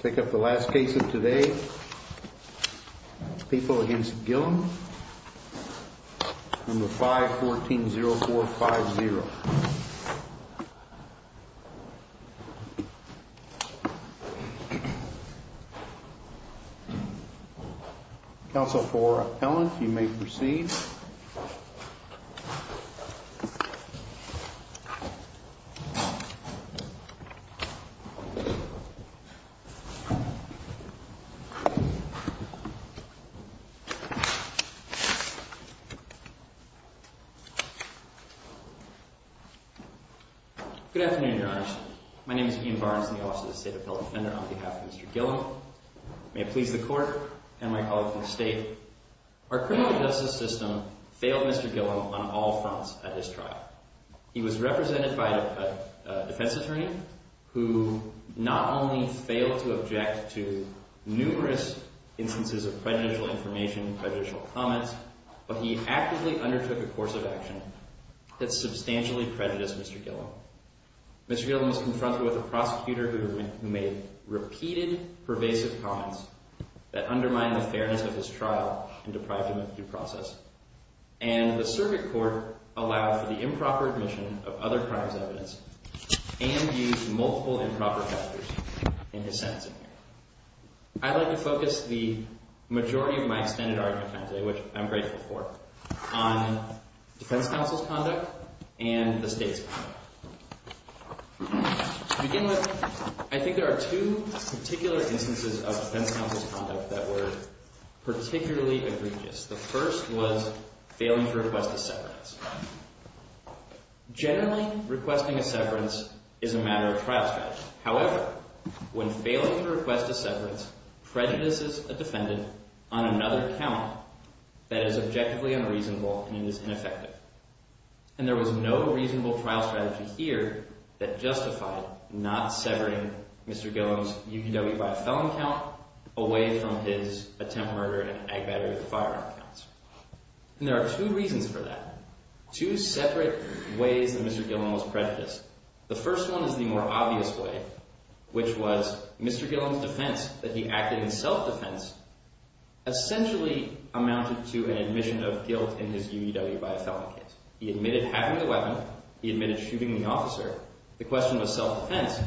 Take up the last case of today, people against Gillum, number 514-0450. Counsel for Ellen, you may proceed. Good afternoon, Your Honor. My name is Ian Barnes, I'm the Office of the State Appellate Defender on behalf of Mr. Gillum. May it please the Court and my colleagues in the State. Our criminal justice system failed Mr. Gillum on all fronts at this trial. He was represented by a defense attorney who not only failed to object to numerous instances of prejudicial information, prejudicial comments, but he actively undertook a course of action that substantially prejudiced Mr. Gillum. Mr. Gillum was confronted with a prosecutor who made repeated pervasive comments that undermined the fairness of his trial and deprived him of due process. And the circuit court allowed for the improper admission of other crimes evidence and used multiple improper factors in his sentencing. I'd like to focus the majority of my extended argument today, which I'm grateful for, on defense counsel's conduct and the State's conduct. To begin with, I think there are two particular instances of defense counsel's conduct that were particularly egregious. The first was failing to request a severance. Generally, requesting a severance is a matter of trial strategy. However, when failing to request a severance prejudices a defendant on another count that is objectively unreasonable and is ineffective. And there was no reasonable trial strategy here that justified not severing Mr. Gillum's UUW by a felon count away from his attempt murder and ag battery with a firearm counts. And there are two reasons for that, two separate ways that Mr. Gillum was prejudiced. The first one is the more obvious way, which was Mr. Gillum's defense that he acted in self-defense essentially amounted to an admission of guilt in his UUW by a felon case. He admitted having the weapon. He admitted shooting the officer. The question was self-defense.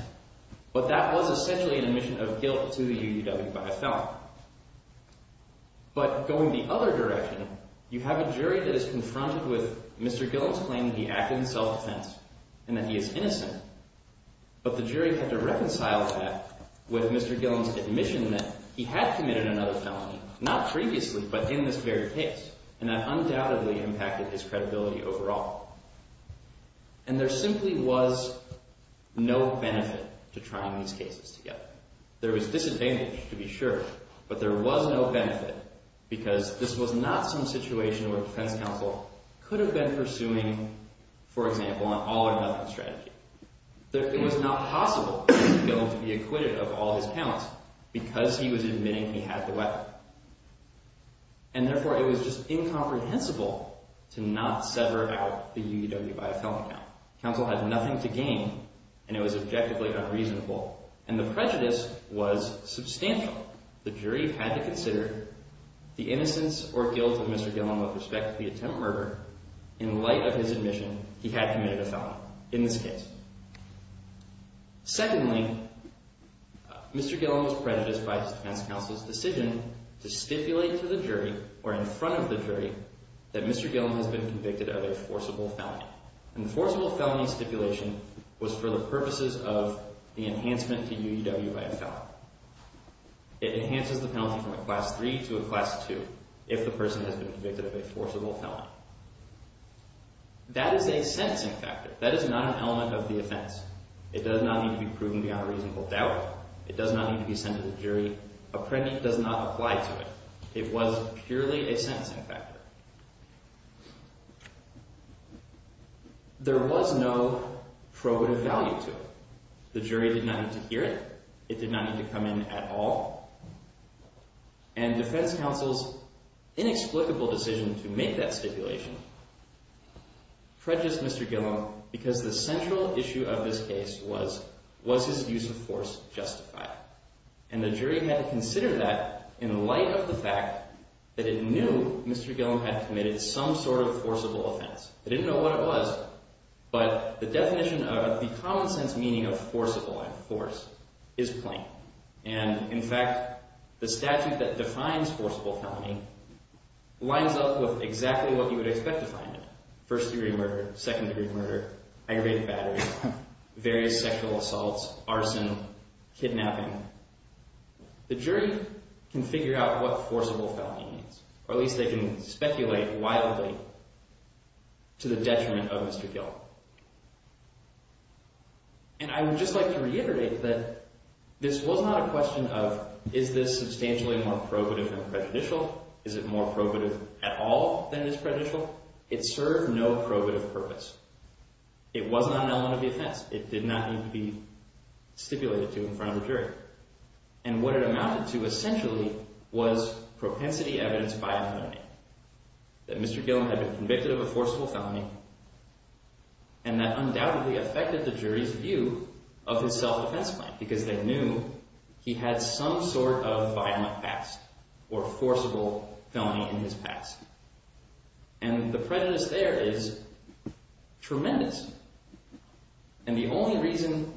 But that was essentially an admission of guilt to the UUW by a felon. But going the other direction, you have a jury that is confronted with Mr. Gillum's claim that he acted in self-defense and that he is innocent. But the jury had to reconcile that with Mr. Gillum's admission that he had committed another felony, not previously, but in this very case. And that undoubtedly impacted his credibility overall. And there simply was no benefit to trying these cases together. There was disadvantage to be sure, but there was no benefit because this was not some situation where defense counsel could have been pursuing, for example, an all-or-nothing strategy. It was not possible for Mr. Gillum to be acquitted of all his counts because he was admitting he had the weapon. And therefore, it was just incomprehensible to not sever out the UUW by a felon count. Counsel had nothing to gain, and it was objectively unreasonable. And the prejudice was substantial. The jury had to consider the innocence or guilt of Mr. Gillum with respect to the attempt murder in light of his admission he had committed a felony in this case. Secondly, Mr. Gillum was prejudiced by defense counsel's decision to stipulate to the jury or in front of the jury that Mr. Gillum has been convicted of a forcible felony. And the forcible felony stipulation was for the purposes of the enhancement to UUW by a felon. It enhances the penalty from a class 3 to a class 2 if the person has been convicted of a forcible felony. That is a sentencing factor. That is not an element of the offense. It does not need to be proven beyond reasonable doubt. It does not need to be sent to the jury. A pregnant does not apply to it. It was purely a sentencing factor. There was no probative value to it. The jury did not need to hear it. It did not need to come in at all. And defense counsel's inexplicable decision to make that stipulation prejudiced Mr. Gillum because the central issue of this case was, was his use of force justified? And the jury had to consider that in light of the fact that it knew Mr. Gillum had committed some sort of forcible offense. They didn't know what it was. But the definition of the common sense meaning of forcible and force is plain. And, in fact, the statute that defines forcible felony lines up with exactly what you would expect to find in it. First degree murder, second degree murder, aggravated battery, various sexual assaults, arson, kidnapping. The jury can figure out what forcible felony means, or at least they can speculate wildly to the detriment of Mr. Gillum. And I would just like to reiterate that this was not a question of, is this substantially more probative than prejudicial? Is it more probative at all than is prejudicial? It served no probative purpose. It wasn't on element of defense. It did not need to be stipulated to in front of the jury. And what it amounted to essentially was propensity evidence by a felony. That Mr. Gillum had been convicted of a forcible felony and that undoubtedly affected the jury's view of his self-defense plan. Because they knew he had some sort of violent past or forcible felony in his past. And the prejudice there is tremendous. And the only reason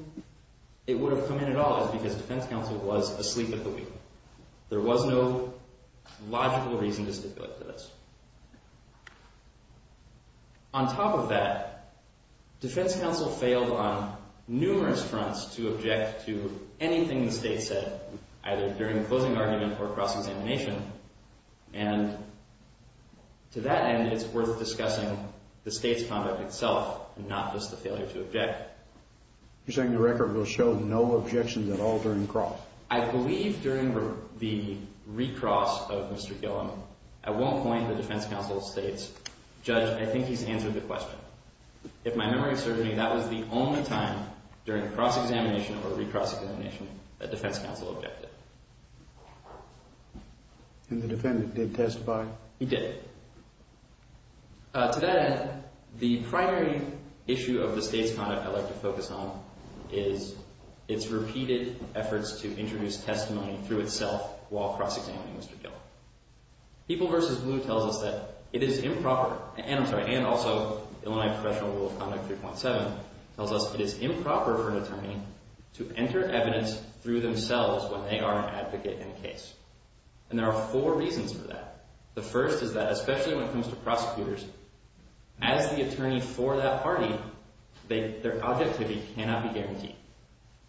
it would have come in at all is because defense counsel was asleep at the wheel. There was no logical reason to stipulate to this. On top of that, defense counsel failed on numerous fronts to object to anything the state said, either during the closing argument or cross-examination. And to that end, it's worth discussing the state's conduct itself and not just the failure to object. You're saying the record will show no objections at all during cross? I believe during the recross of Mr. Gillum. I won't point to the defense counsel's states. Judge, I think he's answered the question. If my memory serves me, that was the only time during cross-examination or recross-examination that defense counsel objected. And the defendant did testify? He did. To that end, the primary issue of the state's conduct I'd like to focus on is its repeated efforts to introduce testimony through itself while cross-examining Mr. Gillum. People v. Blue tells us that it is improper, and I'm sorry, and also Illinois Professional Rule of Conduct 3.7 tells us it is improper for an attorney to enter evidence through themselves when they are an advocate in a case. And there are four reasons for that. The first is that, especially when it comes to prosecutors, as the attorney for that party, their objectivity cannot be guaranteed.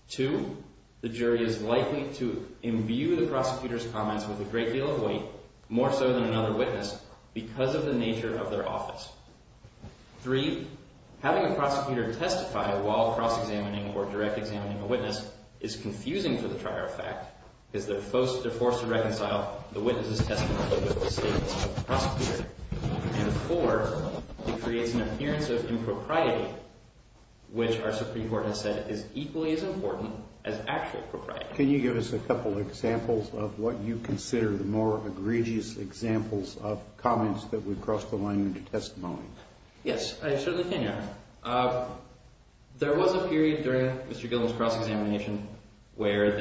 Two, the jury is likely to imbue the prosecutor's comments with a great deal of weight, more so than another witness, because of the nature of their office. Three, having a prosecutor testify while cross-examining or direct examining a witness is confusing for the trier of fact, because they're forced to reconcile the witness's testimony with the state prosecutor. And four, it creates an appearance of impropriety, which our Supreme Court has said is equally as important as actual propriety. Can you give us a couple examples of what you consider the more egregious examples of comments that would cross the line into testimony? Yes, I certainly can, Your Honor. There was a period during Mr. Gillum's cross-examination where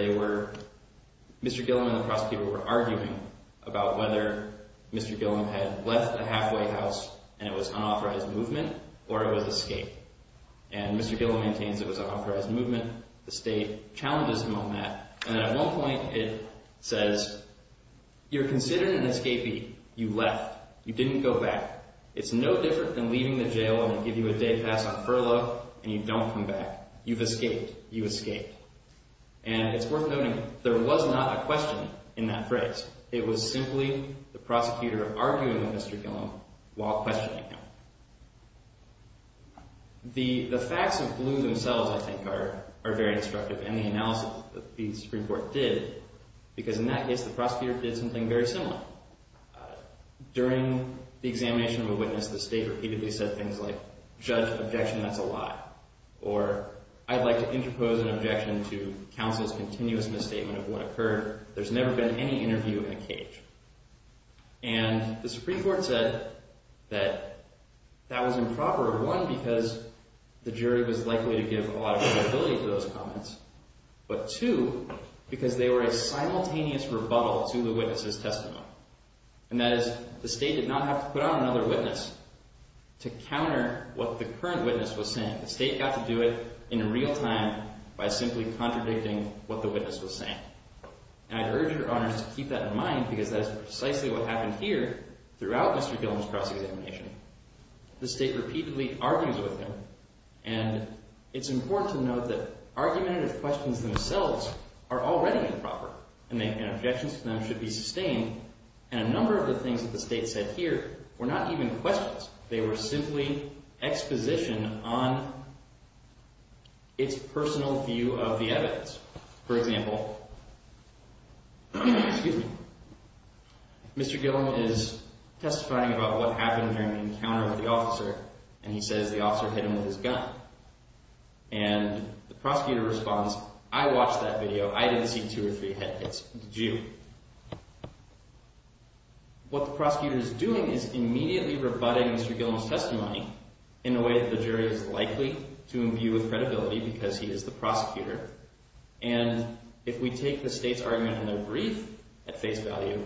Mr. Gillum and the prosecutor were arguing about whether Mr. Gillum had left the halfway house and it was unauthorized movement or it was escape. And Mr. Gillum maintains it was unauthorized movement. The state challenges him on that. And at one point, it says, you're considered an escapee. You left. You didn't go back. It's no different than leaving the jail and they give you a day pass on furlough and you don't come back. You've escaped. You escaped. And it's worth noting, there was not a question in that phrase. It was simply the prosecutor arguing with Mr. Gillum while questioning him. The facts of Blue themselves, I think, are very instructive, and the analysis that the Supreme Court did, because in that case, the prosecutor did something very similar. During the examination of a witness, the state repeatedly said things like, judge, objection, that's a lie. Or I'd like to interpose an objection to counsel's continuous misstatement of what occurred. There's never been any interview in a cage. And the Supreme Court said that that was improper, one, because the jury was likely to give a lot of credibility to those comments. But two, because they were a simultaneous rebuttal to the witness's testimony. And that is, the state did not have to put on another witness to counter what the current witness was saying. The state got to do it in real time by simply contradicting what the witness was saying. And I'd urge your honors to keep that in mind because that is precisely what happened here throughout Mr. Gillum's cross-examination. The state repeatedly argues with him, and it's important to note that argumentative questions themselves are already improper. And objections to them should be sustained. And a number of the things that the state said here were not even questions. They were simply exposition on its personal view of the evidence. For example, Mr. Gillum is testifying about what happened during the encounter with the officer, and he says the officer hit him with his gun. And the prosecutor responds, I watched that video. I didn't see two or three head hits. Did you? What the prosecutor is doing is immediately rebutting Mr. Gillum's testimony in a way that the jury is likely to imbue with credibility because he is the prosecutor. And if we take the state's argument in their brief at face value,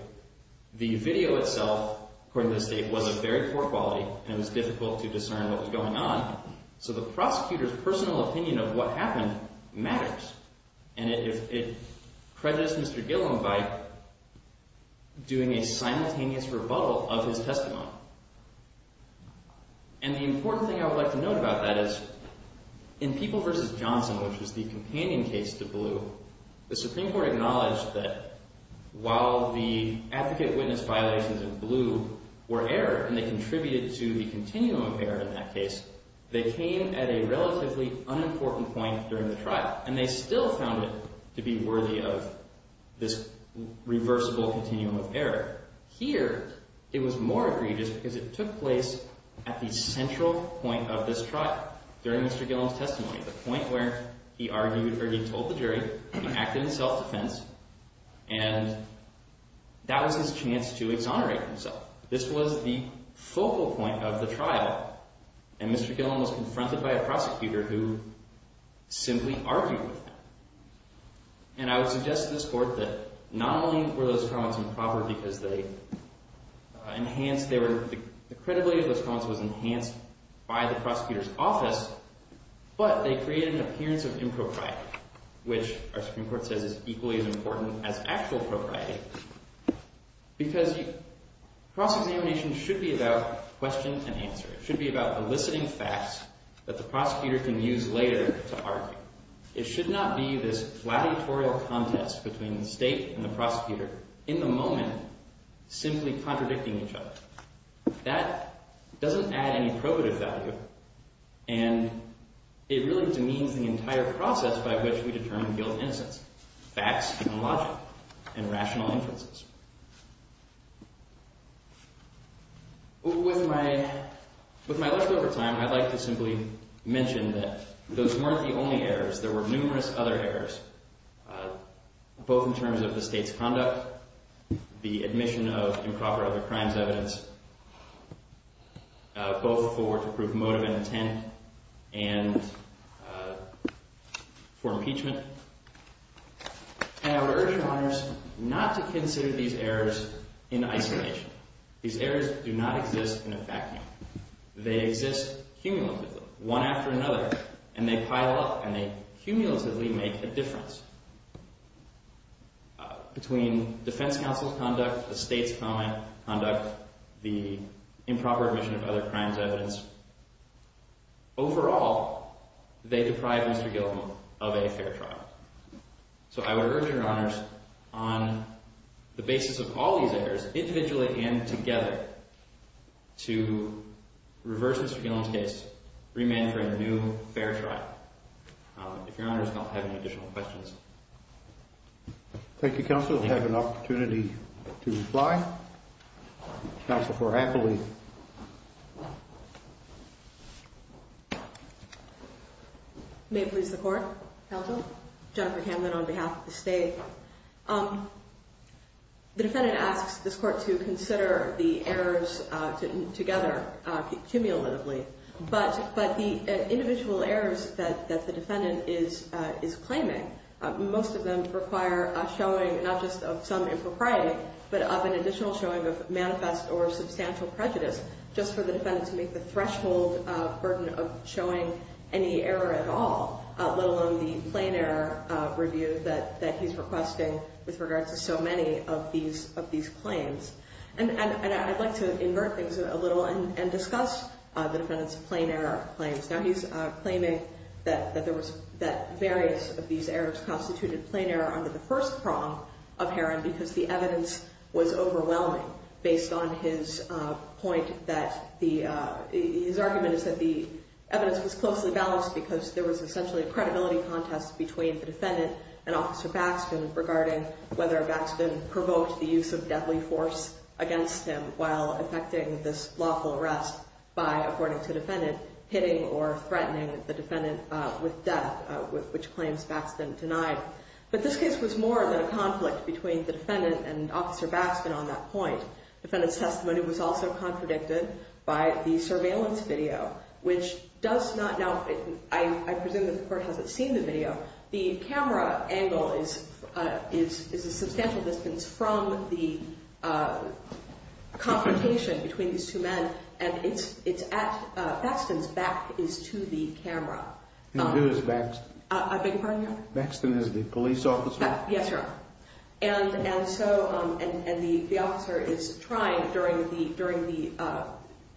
the video itself, according to the state, was of very poor quality, and it was difficult to discern what was going on. So the prosecutor's personal opinion of what happened matters. And it prejudiced Mr. Gillum by doing a simultaneous rebuttal of his testimony. And the important thing I would like to note about that is in People v. Johnson, which was the companion case to Blue, the Supreme Court acknowledged that while the advocate witness violations in Blue were error, and they contributed to the continuum of error in that case, they came at a relatively unimportant point during the trial. And they still found it to be worthy of this reversible continuum of error. Here, it was more egregious because it took place at the central point of this trial, during Mr. Gillum's testimony, the point where he argued or he told the jury, he acted in self-defense, and that was his chance to exonerate himself. This was the focal point of the trial. And Mr. Gillum was confronted by a prosecutor who simply argued with him. And I would suggest to this court that not only were those comments improper because the credibility of those comments was enhanced by the prosecutor's office, but they created an appearance of impropriety, which our Supreme Court says is equally as important as actual propriety. Because cross-examination should be about question and answer. It should be about eliciting facts that the prosecutor can use later to argue. It should not be this gladiatorial contest between the state and the prosecutor, in the moment, simply contradicting each other. That doesn't add any probative value, and it really demeans the entire process by which we determine Gillum's innocence, facts being logical and rational inferences. With my leftover time, I'd like to simply mention that those weren't the only errors. There were numerous other errors, both in terms of the state's conduct, the admission of improper other crimes evidence, both for to prove motive and intent, and for impeachment. And I would urge the lawyers not to consider these errors in isolation. These errors do not exist in a vacuum. They exist cumulatively, one after another, and they pile up and they cumulatively make a difference between defense counsel's conduct, the state's conduct, the improper admission of other crimes evidence. Overall, they deprive Mr. Gillum of a fair trial. So I would urge your honors, on the basis of all these errors, individually and together, to reverse Mr. Gillum's case, remand for a new fair trial. If your honors don't have any additional questions. Thank you, counsel. I have an opportunity to reply. Counsel for Appley. May it please the court. Counsel. Jennifer Camden on behalf of the state. The defendant asks this court to consider the errors together cumulatively. But the individual errors that the defendant is claiming, most of them require a showing, not just of some impropriety, but of an additional showing of manifest or substantial prejudice, just for the defendant to make the threshold burden of showing any error at all, let alone the plain error review that he's requesting with regard to so many of these claims. And I'd like to invert things a little and discuss the defendant's plain error claims. Now, he's claiming that there was, that various of these errors constituted plain error under the first prong of Herron because the evidence was overwhelming, based on his point that the, his argument is that the evidence was closely balanced because there was essentially a credibility contest between the defendant and Officer Baxton regarding whether Baxton provoked the use of deadly force against him while effecting this lawful arrest by, according to the defendant, hitting or threatening the defendant with death, which claims Baxton denied. But this case was more than a conflict between the defendant and Officer Baxton on that point. The defendant's testimony was also contradicted by the surveillance video, which does not, now, I presume that the court hasn't seen the video. The camera angle is a substantial distance from the confrontation between these two men, and it's at, Baxton's back is to the camera. And who is Baxton? I beg your pardon, Your Honor? Baxton is the police officer? Yes, Your Honor. And so, and the officer is trying, during the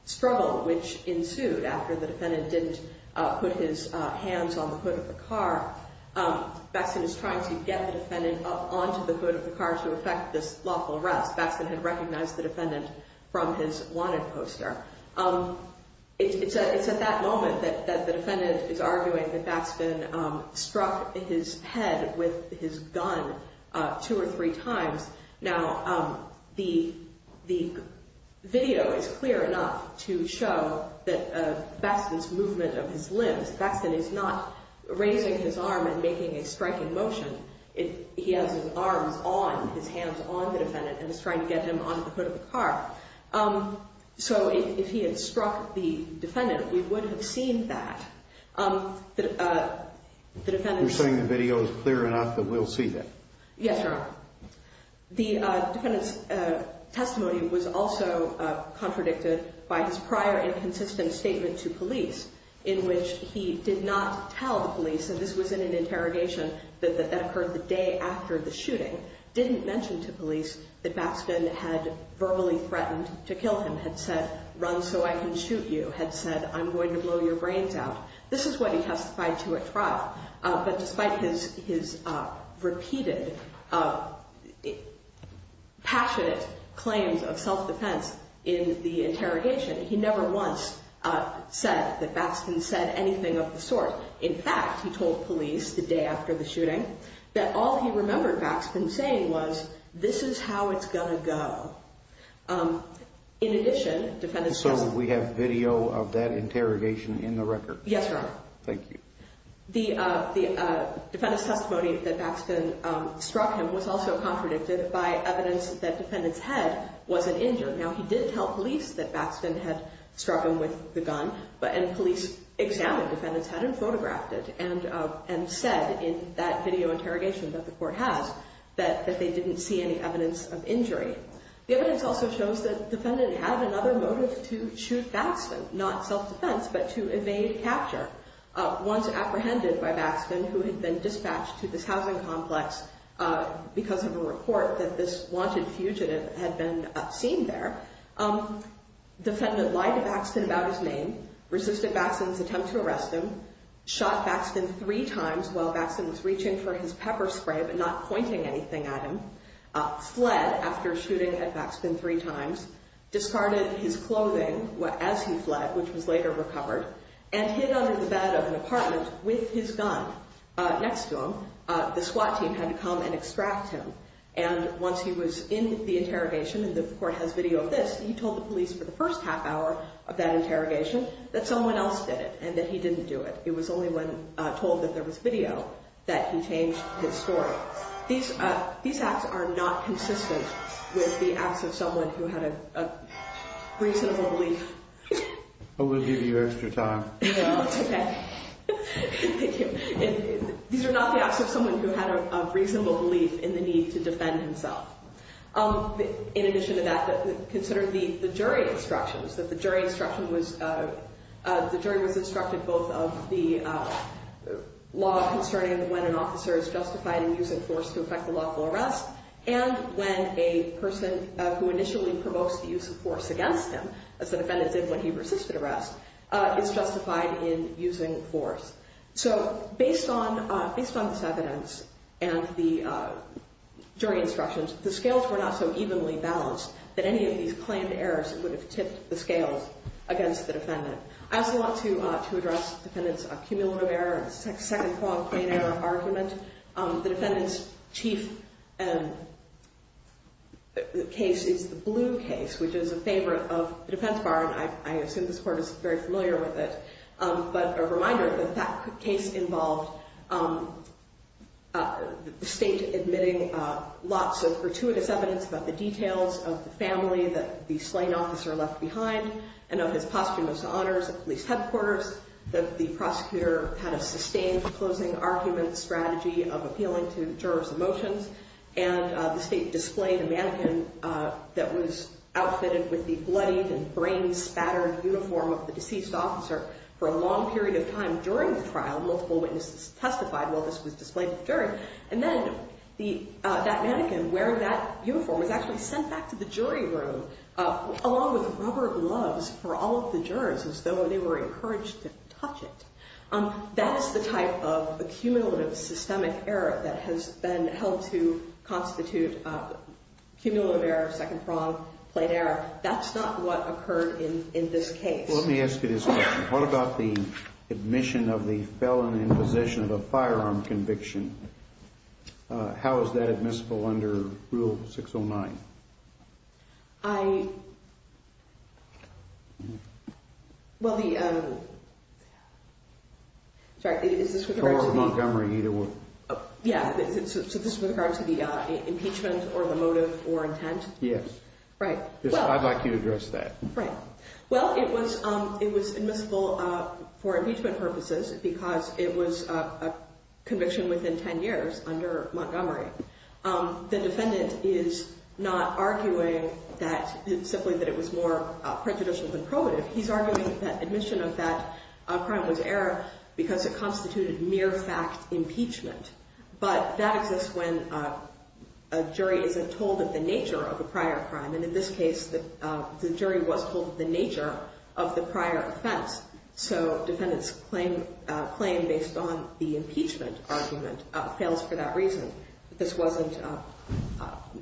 struggle which ensued after the defendant didn't put his hands on the hood of the car, Baxton is trying to get the defendant up onto the hood of the car to effect this lawful arrest. Baxton had recognized the defendant from his wanted poster. It's at that moment that the defendant is arguing that Baxton struck his head with his gun two or three times. Now, the video is clear enough to show that Baxton's movement of his limbs, Baxton is not raising his arm and making a striking motion. He has his arms on, his hands on the defendant, and is trying to get him onto the hood of the car. So, if he had struck the defendant, we would have seen that. You're saying the video is clear enough that we'll see that? Yes, Your Honor. The defendant's testimony was also contradicted by his prior inconsistent statement to police, in which he did not tell the police, and this was in an interrogation that occurred the day after the shooting, didn't mention to police that Baxton had verbally threatened to kill him, had said, run so I can shoot you, had said, I'm going to blow your brains out. This is what he testified to at trial. But despite his repeated passionate claims of self-defense in the interrogation, he never once said that Baxton said anything of the sort. In fact, he told police the day after the shooting that all he remembered Baxton saying was, this is how it's going to go. In addition, defendant's testimony... So, we have video of that interrogation in the record? Yes, Your Honor. Thank you. The defendant's testimony that Baxton struck him was also contradicted by evidence that defendant's head wasn't injured. Now, he did tell police that Baxton had struck him with the gun, and police examined defendant's head and photographed it and said in that video interrogation that the court has that they didn't see any evidence of injury. The evidence also shows that defendant had another motive to shoot Baxton, not self-defense, but to evade capture. Once apprehended by Baxton, who had been dispatched to this housing complex because of a report that this wanted fugitive had been seen there, defendant lied to Baxton about his name, resisted Baxton's attempt to arrest him, shot Baxton three times while Baxton was reaching for his pepper spray but not pointing anything at him, fled after shooting at Baxton three times, discarded his clothing as he fled, which was later recovered, and hid under the bed of an apartment with his gun next to him. The SWAT team had to come and extract him. Once he was in the interrogation, and the court has video of this, he told the police for the first half hour of that interrogation that someone else did it and that he didn't do it. It was only when told that there was video that he changed his story. These acts are not consistent with the acts of someone who had a reasonable belief. I'm going to give you extra time. No, it's okay. Thank you. These are not the acts of someone who had a reasonable belief in the need to defend himself. In addition to that, consider the jury instructions, that the jury was instructed both of the law concerning when an officer is justified in using force to effect a lawful arrest and when a person who initially provokes the use of force against him, as the defendant did when he resisted arrest, is justified in using force. So, based on this evidence and the jury instructions, the scales were not so evenly balanced that any of these claimed errors would have tipped the scales against the defendant. I also want to address the defendant's cumulative error, second qualifying error argument. The defendant's chief case is the blue case, which is a favorite of the defense bar, and I assume this court is very familiar with it. But a reminder that that case involved the state admitting lots of gratuitous evidence about the details of the family that the slain officer left behind and of his posthumous honors at police headquarters, that the prosecutor had a sustained closing argument strategy of appealing to jurors' emotions, and the state displayed a mannequin that was outfitted with the bloodied and brain-spattered uniform of the deceased officer for a long period of time during the trial. Multiple witnesses testified while this was displayed to the jury. And then that mannequin wearing that uniform was actually sent back to the jury room along with rubber gloves for all of the jurors as though they were encouraged to touch it. That is the type of accumulative systemic error that has been held to constitute cumulative error, second prong, plain error. That's not what occurred in this case. Let me ask you this question. What about the admission of the felon in possession of a firearm conviction? How is that admissible under Rule 609? I... Well, the... Sorry, is this with regard to the... Or Montgomery, either one. Yeah, so this is with regard to the impeachment or the motive or intent? Yes. Right. I'd like you to address that. Right. Well, it was admissible for impeachment purposes because it was a conviction within 10 years under Montgomery. The defendant is not arguing that simply that it was more prejudicial than probative. He's arguing that admission of that crime was error because it constituted mere fact impeachment. But that exists when a jury isn't told of the nature of the prior crime. And in this case, the jury was told of the nature of the prior offense. So defendant's claim based on the impeachment argument fails for that reason, that this wasn't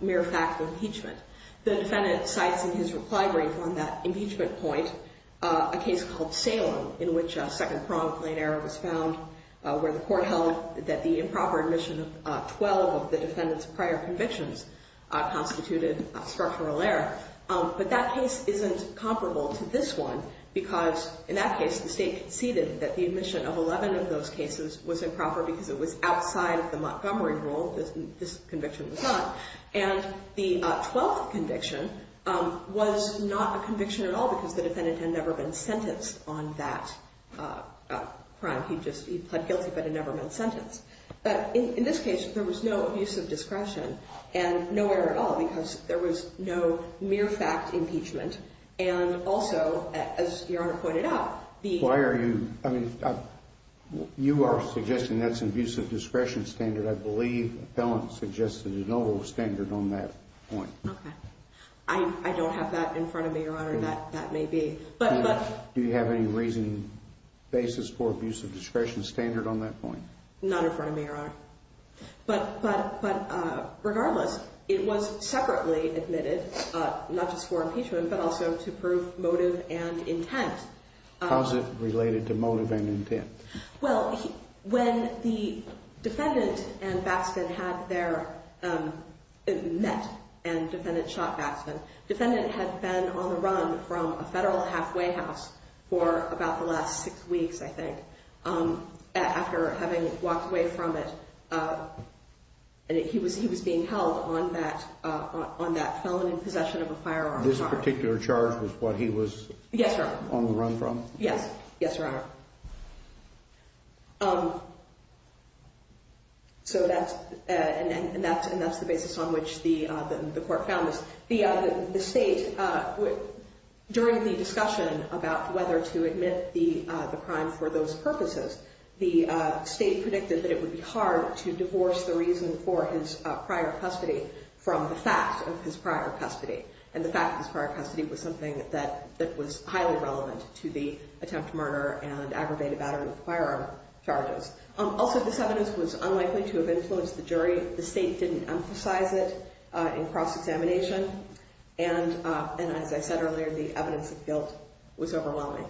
mere fact impeachment. The defendant cites in his reply brief on that impeachment point a case called Salem in which second prong, plain error was found, where the court held that the improper admission of 12 of the defendant's prior convictions constituted structural error. But that case isn't comparable to this one because, in that case, the state conceded that the admission of 11 of those cases was improper because it was outside of the Montgomery rule. This conviction was not. And the 12th conviction was not a conviction at all because the defendant had never been sentenced on that crime. He just, he pled guilty but had never been sentenced. But in this case, there was no abuse of discretion and no error at all because there was no mere fact impeachment. And also, as Your Honor pointed out, the- Why are you, I mean, you are suggesting that's an abuse of discretion standard. I believe the felon suggested an overall standard on that point. Okay. I don't have that in front of me, Your Honor. That may be. Do you have any reason, basis for abuse of discretion standard on that point? Not in front of me, Your Honor. But regardless, it was separately admitted, not just for impeachment, but also to prove motive and intent. How is it related to motive and intent? Well, when the defendant and Baxman had their, met and defendant shot Baxman, defendant had been on the run from a federal halfway house for about the last six weeks, I think. After having walked away from it, he was being held on that felon in possession of a firearm charge. This particular charge was what he was- Yes, Your Honor. On the run from? Yes. Yes, Your Honor. So that's, and that's the basis on which the court found this. The state, during the discussion about whether to admit the crime for those purposes, the state predicted that it would be hard to divorce the reason for his prior custody from the fact of his prior custody. And the fact of his prior custody was something that was highly relevant to the attempt to murder and aggravated battery of firearm charges. Also, this evidence was unlikely to have influenced the jury. The state didn't emphasize it in cross-examination. And as I said earlier, the evidence of guilt was overwhelming.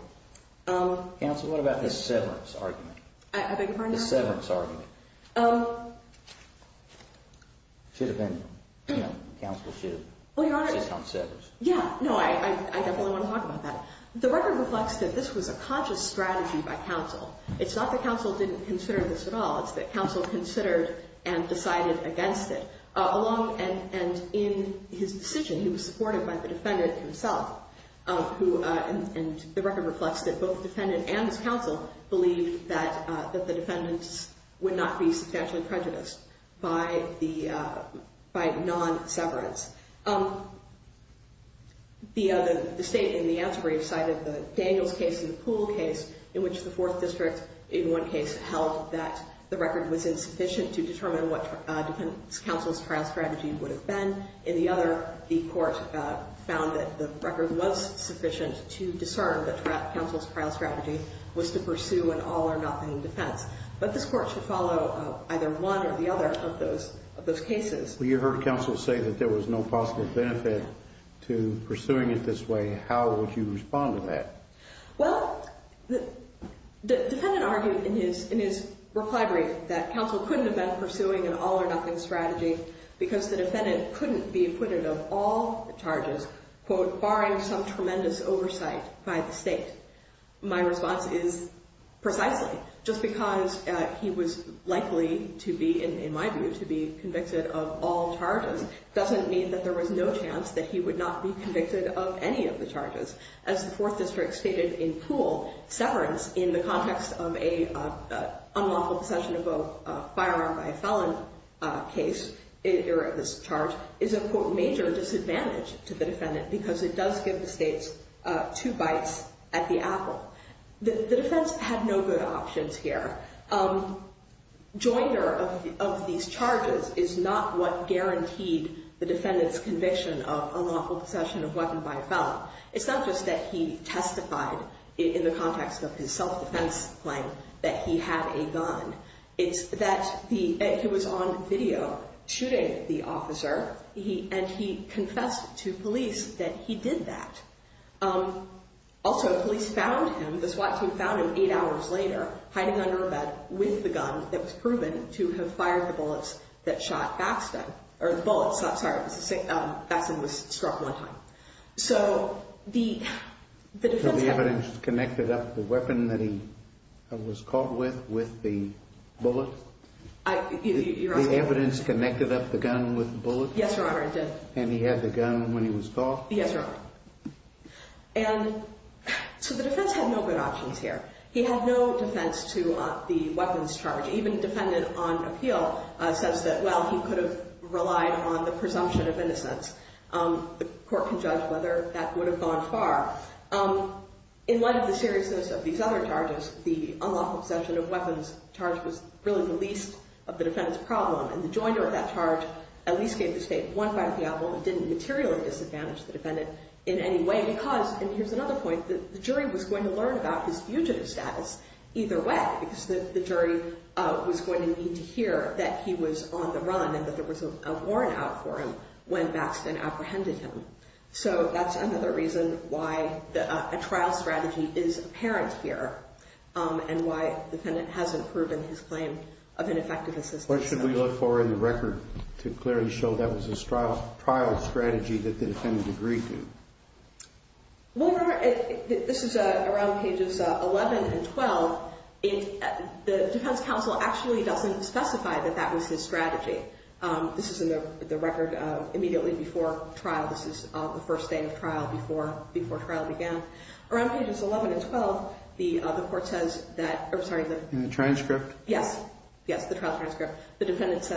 Counsel, what about the severance argument? I beg your pardon, Your Honor? The severance argument. Should have been, you know, counsel should have considered. Yeah, no, I definitely want to talk about that. The record reflects that this was a conscious strategy by counsel. It's not that counsel didn't consider this at all. It's that counsel considered and decided against it. And in his decision, he was supported by the defendant himself, and the record reflects that both the defendant and his counsel believed that the defendants would not be substantially prejudiced by non-severance. The state in the answer brief cited the Daniels case and the Poole case, in which the Fourth District in one case held that the record was insufficient to determine what defendant's counsel's trial strategy would have been. In the other, the court found that the record was sufficient to discern that counsel's trial strategy was to pursue an all-or-nothing defense. But this court should follow either one or the other of those cases. You heard counsel say that there was no possible benefit to pursuing it this way. How would you respond to that? Well, the defendant argued in his reply brief that counsel couldn't have been pursuing an all-or-nothing strategy because the defendant couldn't be acquitted of all the charges, quote, barring some tremendous oversight by the state. My response is precisely. Just because he was likely to be, in my view, to be convicted of all charges doesn't mean that there was no chance that he would not be convicted of any of the charges. As the Fourth District stated in Poole, severance in the context of an unlawful possession of a firearm by a felon case, or this charge, is a major disadvantage to the defendant because it does give the states two bites at the apple. The defense had no good options here. Joinder of these charges is not what guaranteed the defendant's conviction of unlawful possession of a weapon by a felon. It's not just that he testified in the context of his self-defense claim that he had a gun. It's that he was on video shooting the officer, and he confessed to police that he did that. Also, police found him, the SWAT team found him eight hours later, hiding under a bed with the gun that was proven to have fired the bullets that shot Baxton. Baxton was struck one time. So the evidence connected up the weapon that he was caught with with the bullet? The evidence connected up the gun with the bullet? Yes, Your Honor, it did. And he had the gun when he was caught? Yes, Your Honor. So the defense had no good options here. He had no defense to the weapons charge. Even the defendant on appeal says that, well, he could have relied on the presumption of innocence. The court can judge whether that would have gone far. In light of the seriousness of these other charges, the unlawful possession of weapons charge was really the least of the defendant's problem. And the joinder of that charge at least gave the state one fine of the apple and didn't materially disadvantage the defendant in any way because, and here's another point, the jury was going to learn about his fugitive status either way because the jury was going to need to hear that he was on the run and that there was a warrant out for him when Baxton apprehended him. So that's another reason why a trial strategy is apparent here and why the defendant hasn't proven his claim of ineffective assistance. What should we look for in the record to clearly show that was a trial strategy that the defendant agreed to? Well, this is around pages 11 and 12. The defense counsel actually doesn't specify that that was his strategy. This is in the record immediately before trial. This is the first day of trial before trial began. Around pages 11 and 12, the court says that, oh, sorry. In the transcript? Yes, yes, the trial transcript. The defense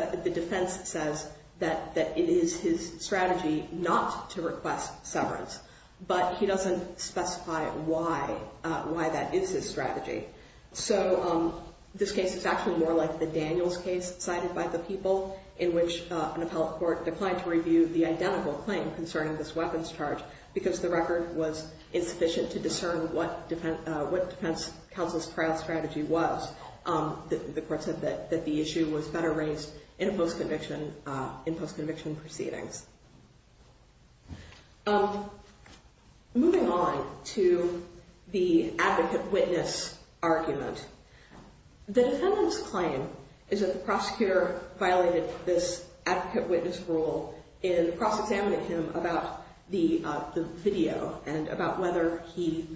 says that it is his strategy not to request severance, but he doesn't specify why that is his strategy. So this case is actually more like the Daniels case cited by the people in which an appellate court declined to review the identical claim concerning this weapons charge because the record was insufficient to discern what defense counsel's trial strategy was. The court said that the issue was better raised in post-conviction proceedings. Moving on to the advocate-witness argument. The defendant's claim is that the prosecutor violated this advocate-witness rule in cross-examining him about the video and about whether he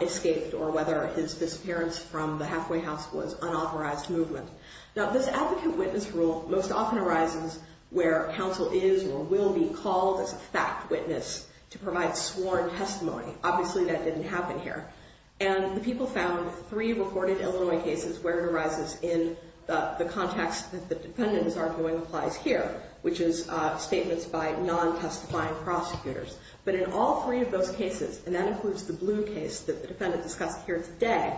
escaped or whether his disappearance from the halfway house was unauthorized movement. Now, this advocate-witness rule most often arises where counsel is or will be called as a fact witness to provide sworn testimony. Obviously, that didn't happen here. And the people found three reported Illinois cases where it arises in the context that the defendant is arguing applies here, which is statements by non-testifying prosecutors. But in all three of those cases, and that includes the blue case that the defendant discussed here today,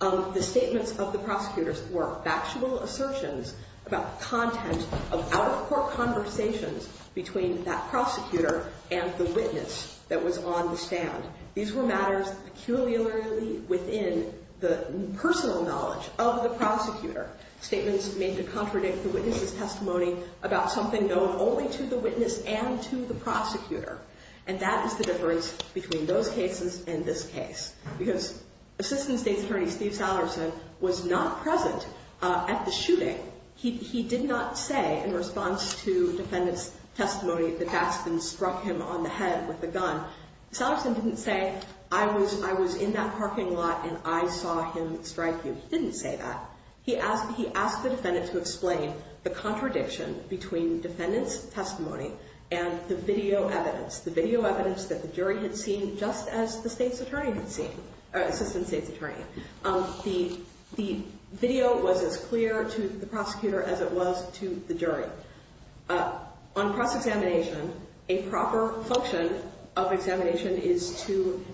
the statements of the prosecutors were factual assertions about content of out-of-court conversations between that prosecutor and the witness that was on the stand. These were matters peculiarly within the personal knowledge of the prosecutor. Statements made to contradict the witness's testimony about something known only to the witness and to the prosecutor. And that is the difference between those cases and this case. Because Assistant State's Attorney Steve Salterson was not present at the shooting. He did not say in response to defendant's testimony that Baskin struck him on the head with a gun. Salterson didn't say, I was in that parking lot and I saw him strike you. He didn't say that. He asked the defendant to explain the contradiction between defendant's testimony and the video evidence, the video evidence that the jury had seen just as the State's Attorney had seen, Assistant State's Attorney. The video was as clear to the prosecutor as it was to the jury. On cross-examination, a proper function of examination is to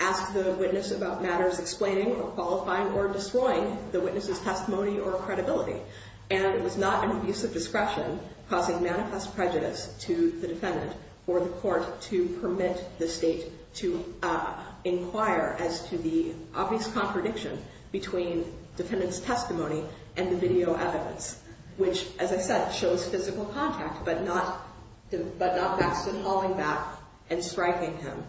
ask the witness about matters explaining or qualifying or destroying the witness's testimony or credibility. And it was not an abuse of discretion causing manifest prejudice to the defendant or the court to permit the State to inquire as to the obvious contradiction between defendant's testimony and the video evidence, which, as I said, shows physical contact but not Baskin hauling back and striking him.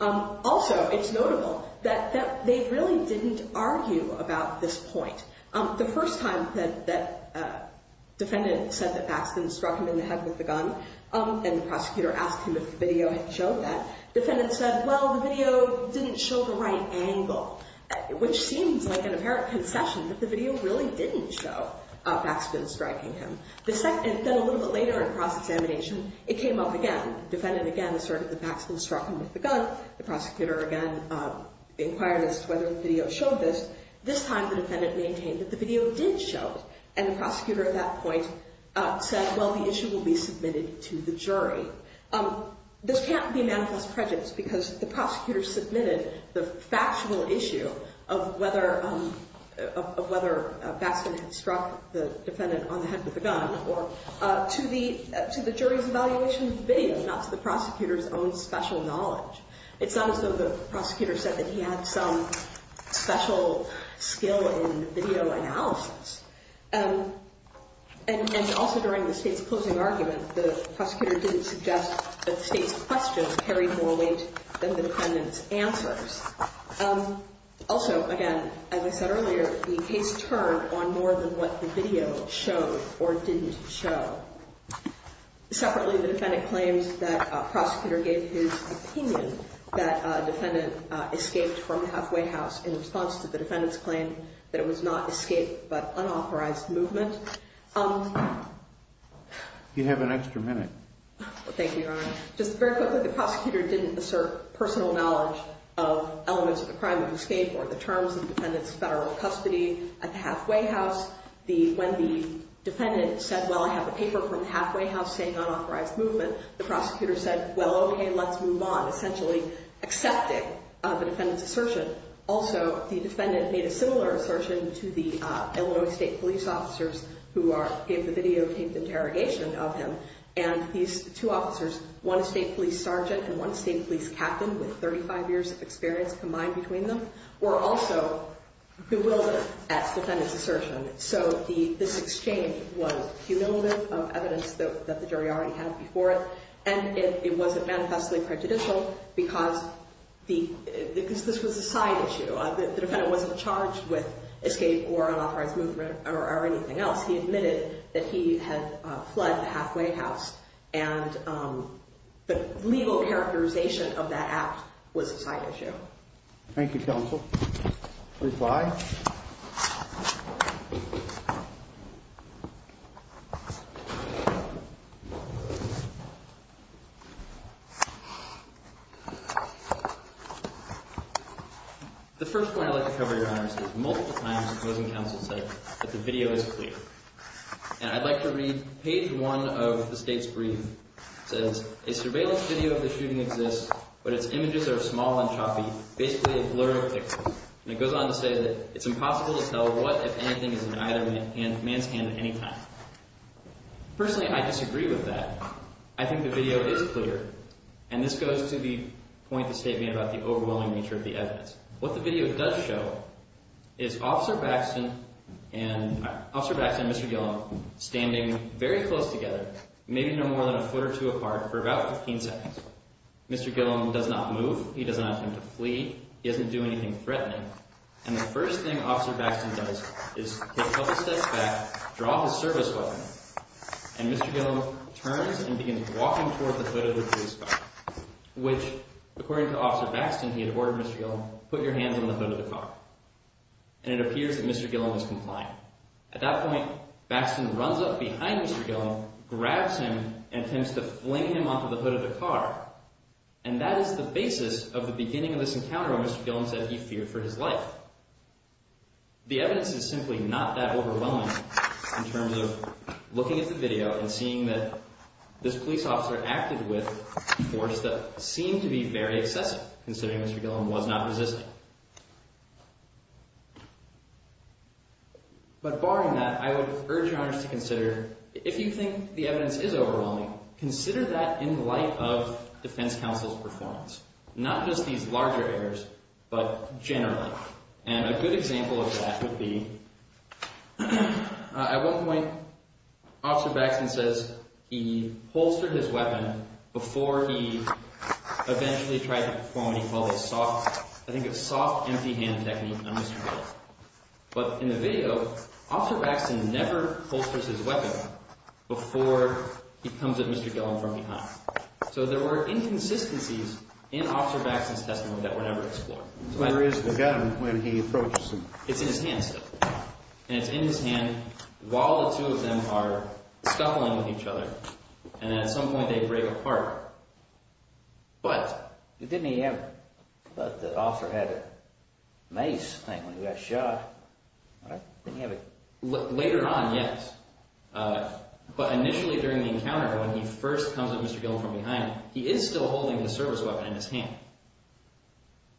Also, it's notable that they really didn't argue about this point. The first time that defendant said that Baskin struck him in the head with a gun and the prosecutor asked him if the video had shown that, defendant said, well, the video didn't show the right angle, which seems like an apparent concession that the video really didn't show Baskin striking him. Then a little bit later in cross-examination, it came up again. Defendant, again, asserted that Baskin struck him with a gun. The prosecutor, again, inquired as to whether the video showed this. This time, the defendant maintained that the video did show it. And the prosecutor at that point said, well, the issue will be submitted to the jury. This can't be manifest prejudice because the prosecutor submitted the factual issue of whether Baskin had struck the defendant on the head with a gun to the jury's evaluation of the video, not to the prosecutor's own special knowledge. It's not as though the prosecutor said that he had some special skill in video analysis. And also during the state's closing argument, the prosecutor didn't suggest that the state's questions carried more weight than the defendant's answers. Also, again, as I said earlier, the case turned on more than what the video showed or didn't show. Separately, the defendant claims that a prosecutor gave his opinion that a defendant escaped from the halfway house in response to the defendant's claim that it was not escape but unauthorized movement. You have an extra minute. Thank you, Your Honor. Just very quickly, the prosecutor didn't assert personal knowledge of elements of the crime of escape or the terms of the defendant's federal custody at the halfway house. When the defendant said, well, I have a paper from the halfway house saying unauthorized movement, the prosecutor said, well, okay, let's move on, essentially accepting the defendant's assertion. Also, the defendant made a similar assertion to the Illinois State police officers who gave the video, and these two officers, one state police sergeant and one state police captain with 35 years of experience combined between them, were also bewildered at the defendant's assertion. So this exchange was cumulative of evidence that the jury already had before it, and it wasn't manifestly prejudicial because this was a side issue. The defendant wasn't charged with escape or unauthorized movement or anything else. He admitted that he had fled the halfway house, and the legal characterization of that act was a side issue. Thank you, counsel. Reply. Thank you, counsel. The first point I'd like to cover, Your Honors, is multiple times the opposing counsel said that the video is clear. And I'd like to read page 1 of the State's brief. It says, a surveillance video of the shooting exists, but its images are small and choppy, basically a blur of pixels. And it goes on to say that it's impossible to tell what, if anything, is in either man's hand at any time. Personally, I disagree with that. I think the video is clear, and this goes to the point the State made about the overwhelming nature of the evidence. What the video does show is Officer Baxter and Mr. Gillum standing very close together, maybe no more than a foot or two apart, for about 15 seconds. Mr. Gillum does not move. He does not attempt to flee. He doesn't do anything threatening. And the first thing Officer Baxter does is take a couple steps back, draw his service weapon, and Mr. Gillum turns and begins walking toward the hood of the police car, which, according to Officer Baxter, he had ordered Mr. Gillum, put your hands on the hood of the car. And it appears that Mr. Gillum is compliant. At that point, Baxter runs up behind Mr. Gillum, grabs him, and attempts to fling him onto the hood of the car. And that is the basis of the beginning of this encounter where Mr. Gillum said he feared for his life. The evidence is simply not that overwhelming in terms of looking at the video and seeing that this police officer acted with a force that seemed to be very excessive, considering Mr. Gillum was not resisting. But barring that, I would urge your honors to consider, if you think the evidence is overwhelming, consider that in light of defense counsel's performance, not just these larger errors, but generally. And a good example of that would be, at one point, Officer Baxter says he holstered his weapon before he eventually tried to perform what he called a soft, I think a soft empty hand technique on Mr. Gillum. But in the video, Officer Baxter never holsters his weapon before he comes at Mr. Gillum from behind. So there were inconsistencies in Officer Baxter's testimony that were never explored. There is the gun when he approaches him. It's in his hand still. And it's in his hand while the two of them are scuffling with each other. And at some point, they break apart. But didn't he have, the officer had a mace thing when he got shot. Later on, yes. But initially during the encounter, when he first comes at Mr. Gillum from behind, he is still holding the service weapon in his hand.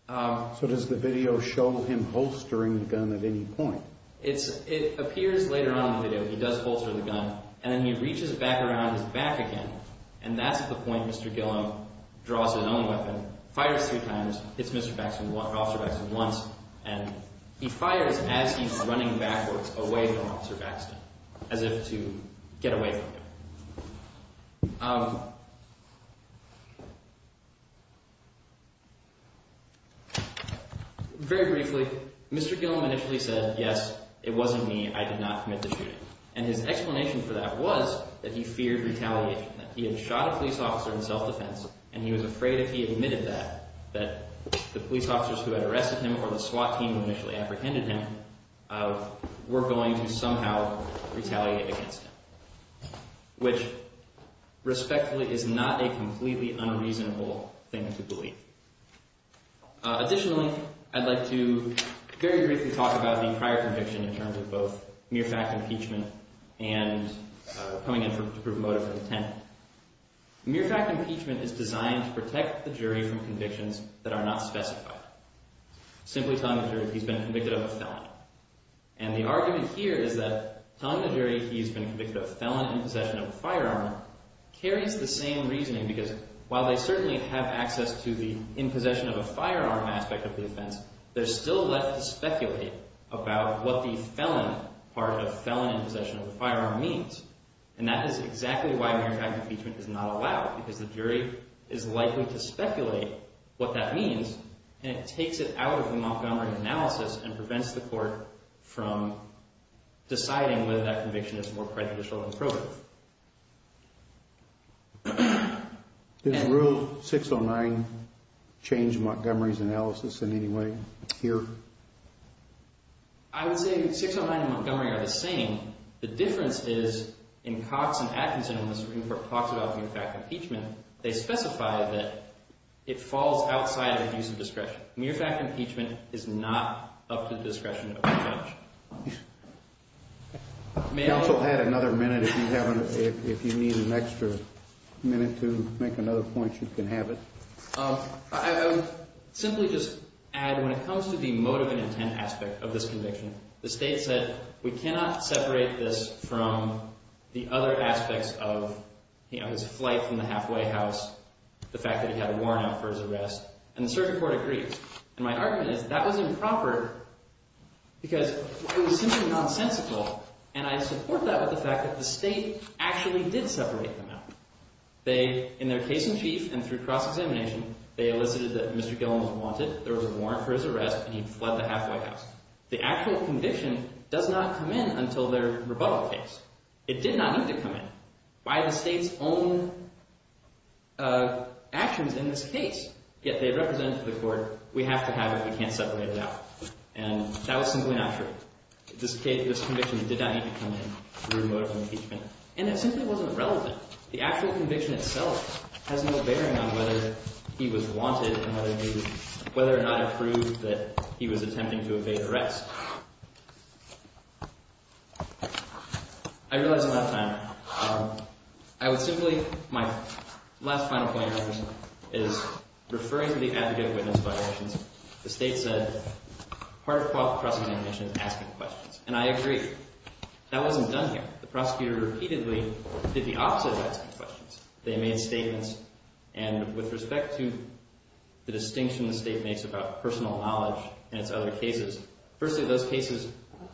So does the video show him holstering the gun at any point? It appears later on in the video he does holster the gun, and then he reaches back around his back again. And that's at the point Mr. Gillum draws his own weapon, fires three times, hits Officer Baxter once, and he fires as he's running backwards away from Officer Baxter, as if to get away from him. Very briefly, Mr. Gillum initially said, yes, it wasn't me, I did not commit the shooting. And his explanation for that was that he feared retaliation. That he had shot a police officer in self-defense, and he was afraid if he admitted that, that the police officers who had arrested him, or the SWAT team who initially apprehended him, were going to somehow retaliate against him. Which, respectfully, is not a completely unreasonable thing to believe. Additionally, I'd like to very briefly talk about the prior conviction in terms of both mere fact impeachment and coming in to prove motive for detention. Mere fact impeachment is designed to protect the jury from convictions that are not specified. Simply telling the jury he's been convicted of a felon. And the argument here is that telling the jury he's been convicted of a felon in possession of a firearm carries the same reasoning. Because while they certainly have access to the in possession of a firearm aspect of the offense, they're still left to speculate about what the felon part of felon in possession of a firearm means. And that is exactly why mere fact impeachment is not allowed. Because the jury is likely to speculate what that means. And it takes it out of the Montgomery analysis and prevents the court from deciding whether that conviction is more prejudicial than probative. Is rule 609 change Montgomery's analysis in any way here? I would say 609 and Montgomery are the same. The difference is in Cox and Atkinson when the Supreme Court talks about mere fact impeachment, they specify that it falls outside the use of discretion. Mere fact impeachment is not up to the discretion of the judge. Counsel had another minute if you need an extra minute to make another point, you can have it. I would simply just add when it comes to the motive and intent aspect of this conviction, the state said we cannot separate this from the other aspects of his flight from the halfway house, the fact that he had a warrant out for his arrest. And the circuit court agreed. And my argument is that was improper because it was simply nonsensical. And I support that with the fact that the state actually did separate them out. They, in their case in chief and through cross-examination, they elicited that Mr. Gillum was wanted, there was a warrant for his arrest, and he fled the halfway house. The actual conviction does not come in until their rebuttal case. It did not need to come in by the state's own actions in this case. Yet they represented to the court, we have to have it, we can't separate it out. And that was simply not true. This conviction did not need to come in through motive impeachment. And it simply wasn't relevant. The actual conviction itself has no bearing on whether he was wanted and whether or not it proved that he was attempting to evade arrest. I realize I'm out of time. I would simply, my last final point is referring to the advocate witness violations. The state said part of cross-examination is asking questions. And I agree. That wasn't done here. The prosecutor repeatedly did the opposite of asking questions. They made statements, and with respect to the distinction the state makes about personal knowledge and its other cases, firstly, those cases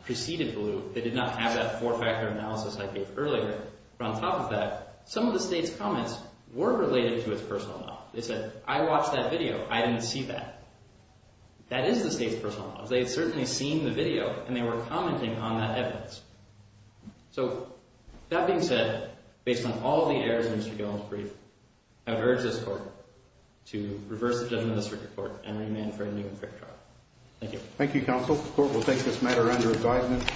preceded Blue. They did not have that four-factor analysis I gave earlier. But on top of that, some of the state's comments were related to its personal knowledge. They said, I watched that video. I didn't see that. That is the state's personal knowledge. They had certainly seen the video, and they were commenting on that evidence. So, that being said, based on all the errors in Mr. Gillum's brief, I would urge this court to reverse the judgment of the circuit court and remand for a new and fair trial. Thank you. Thank you, counsel. The court will take this matter under advisement.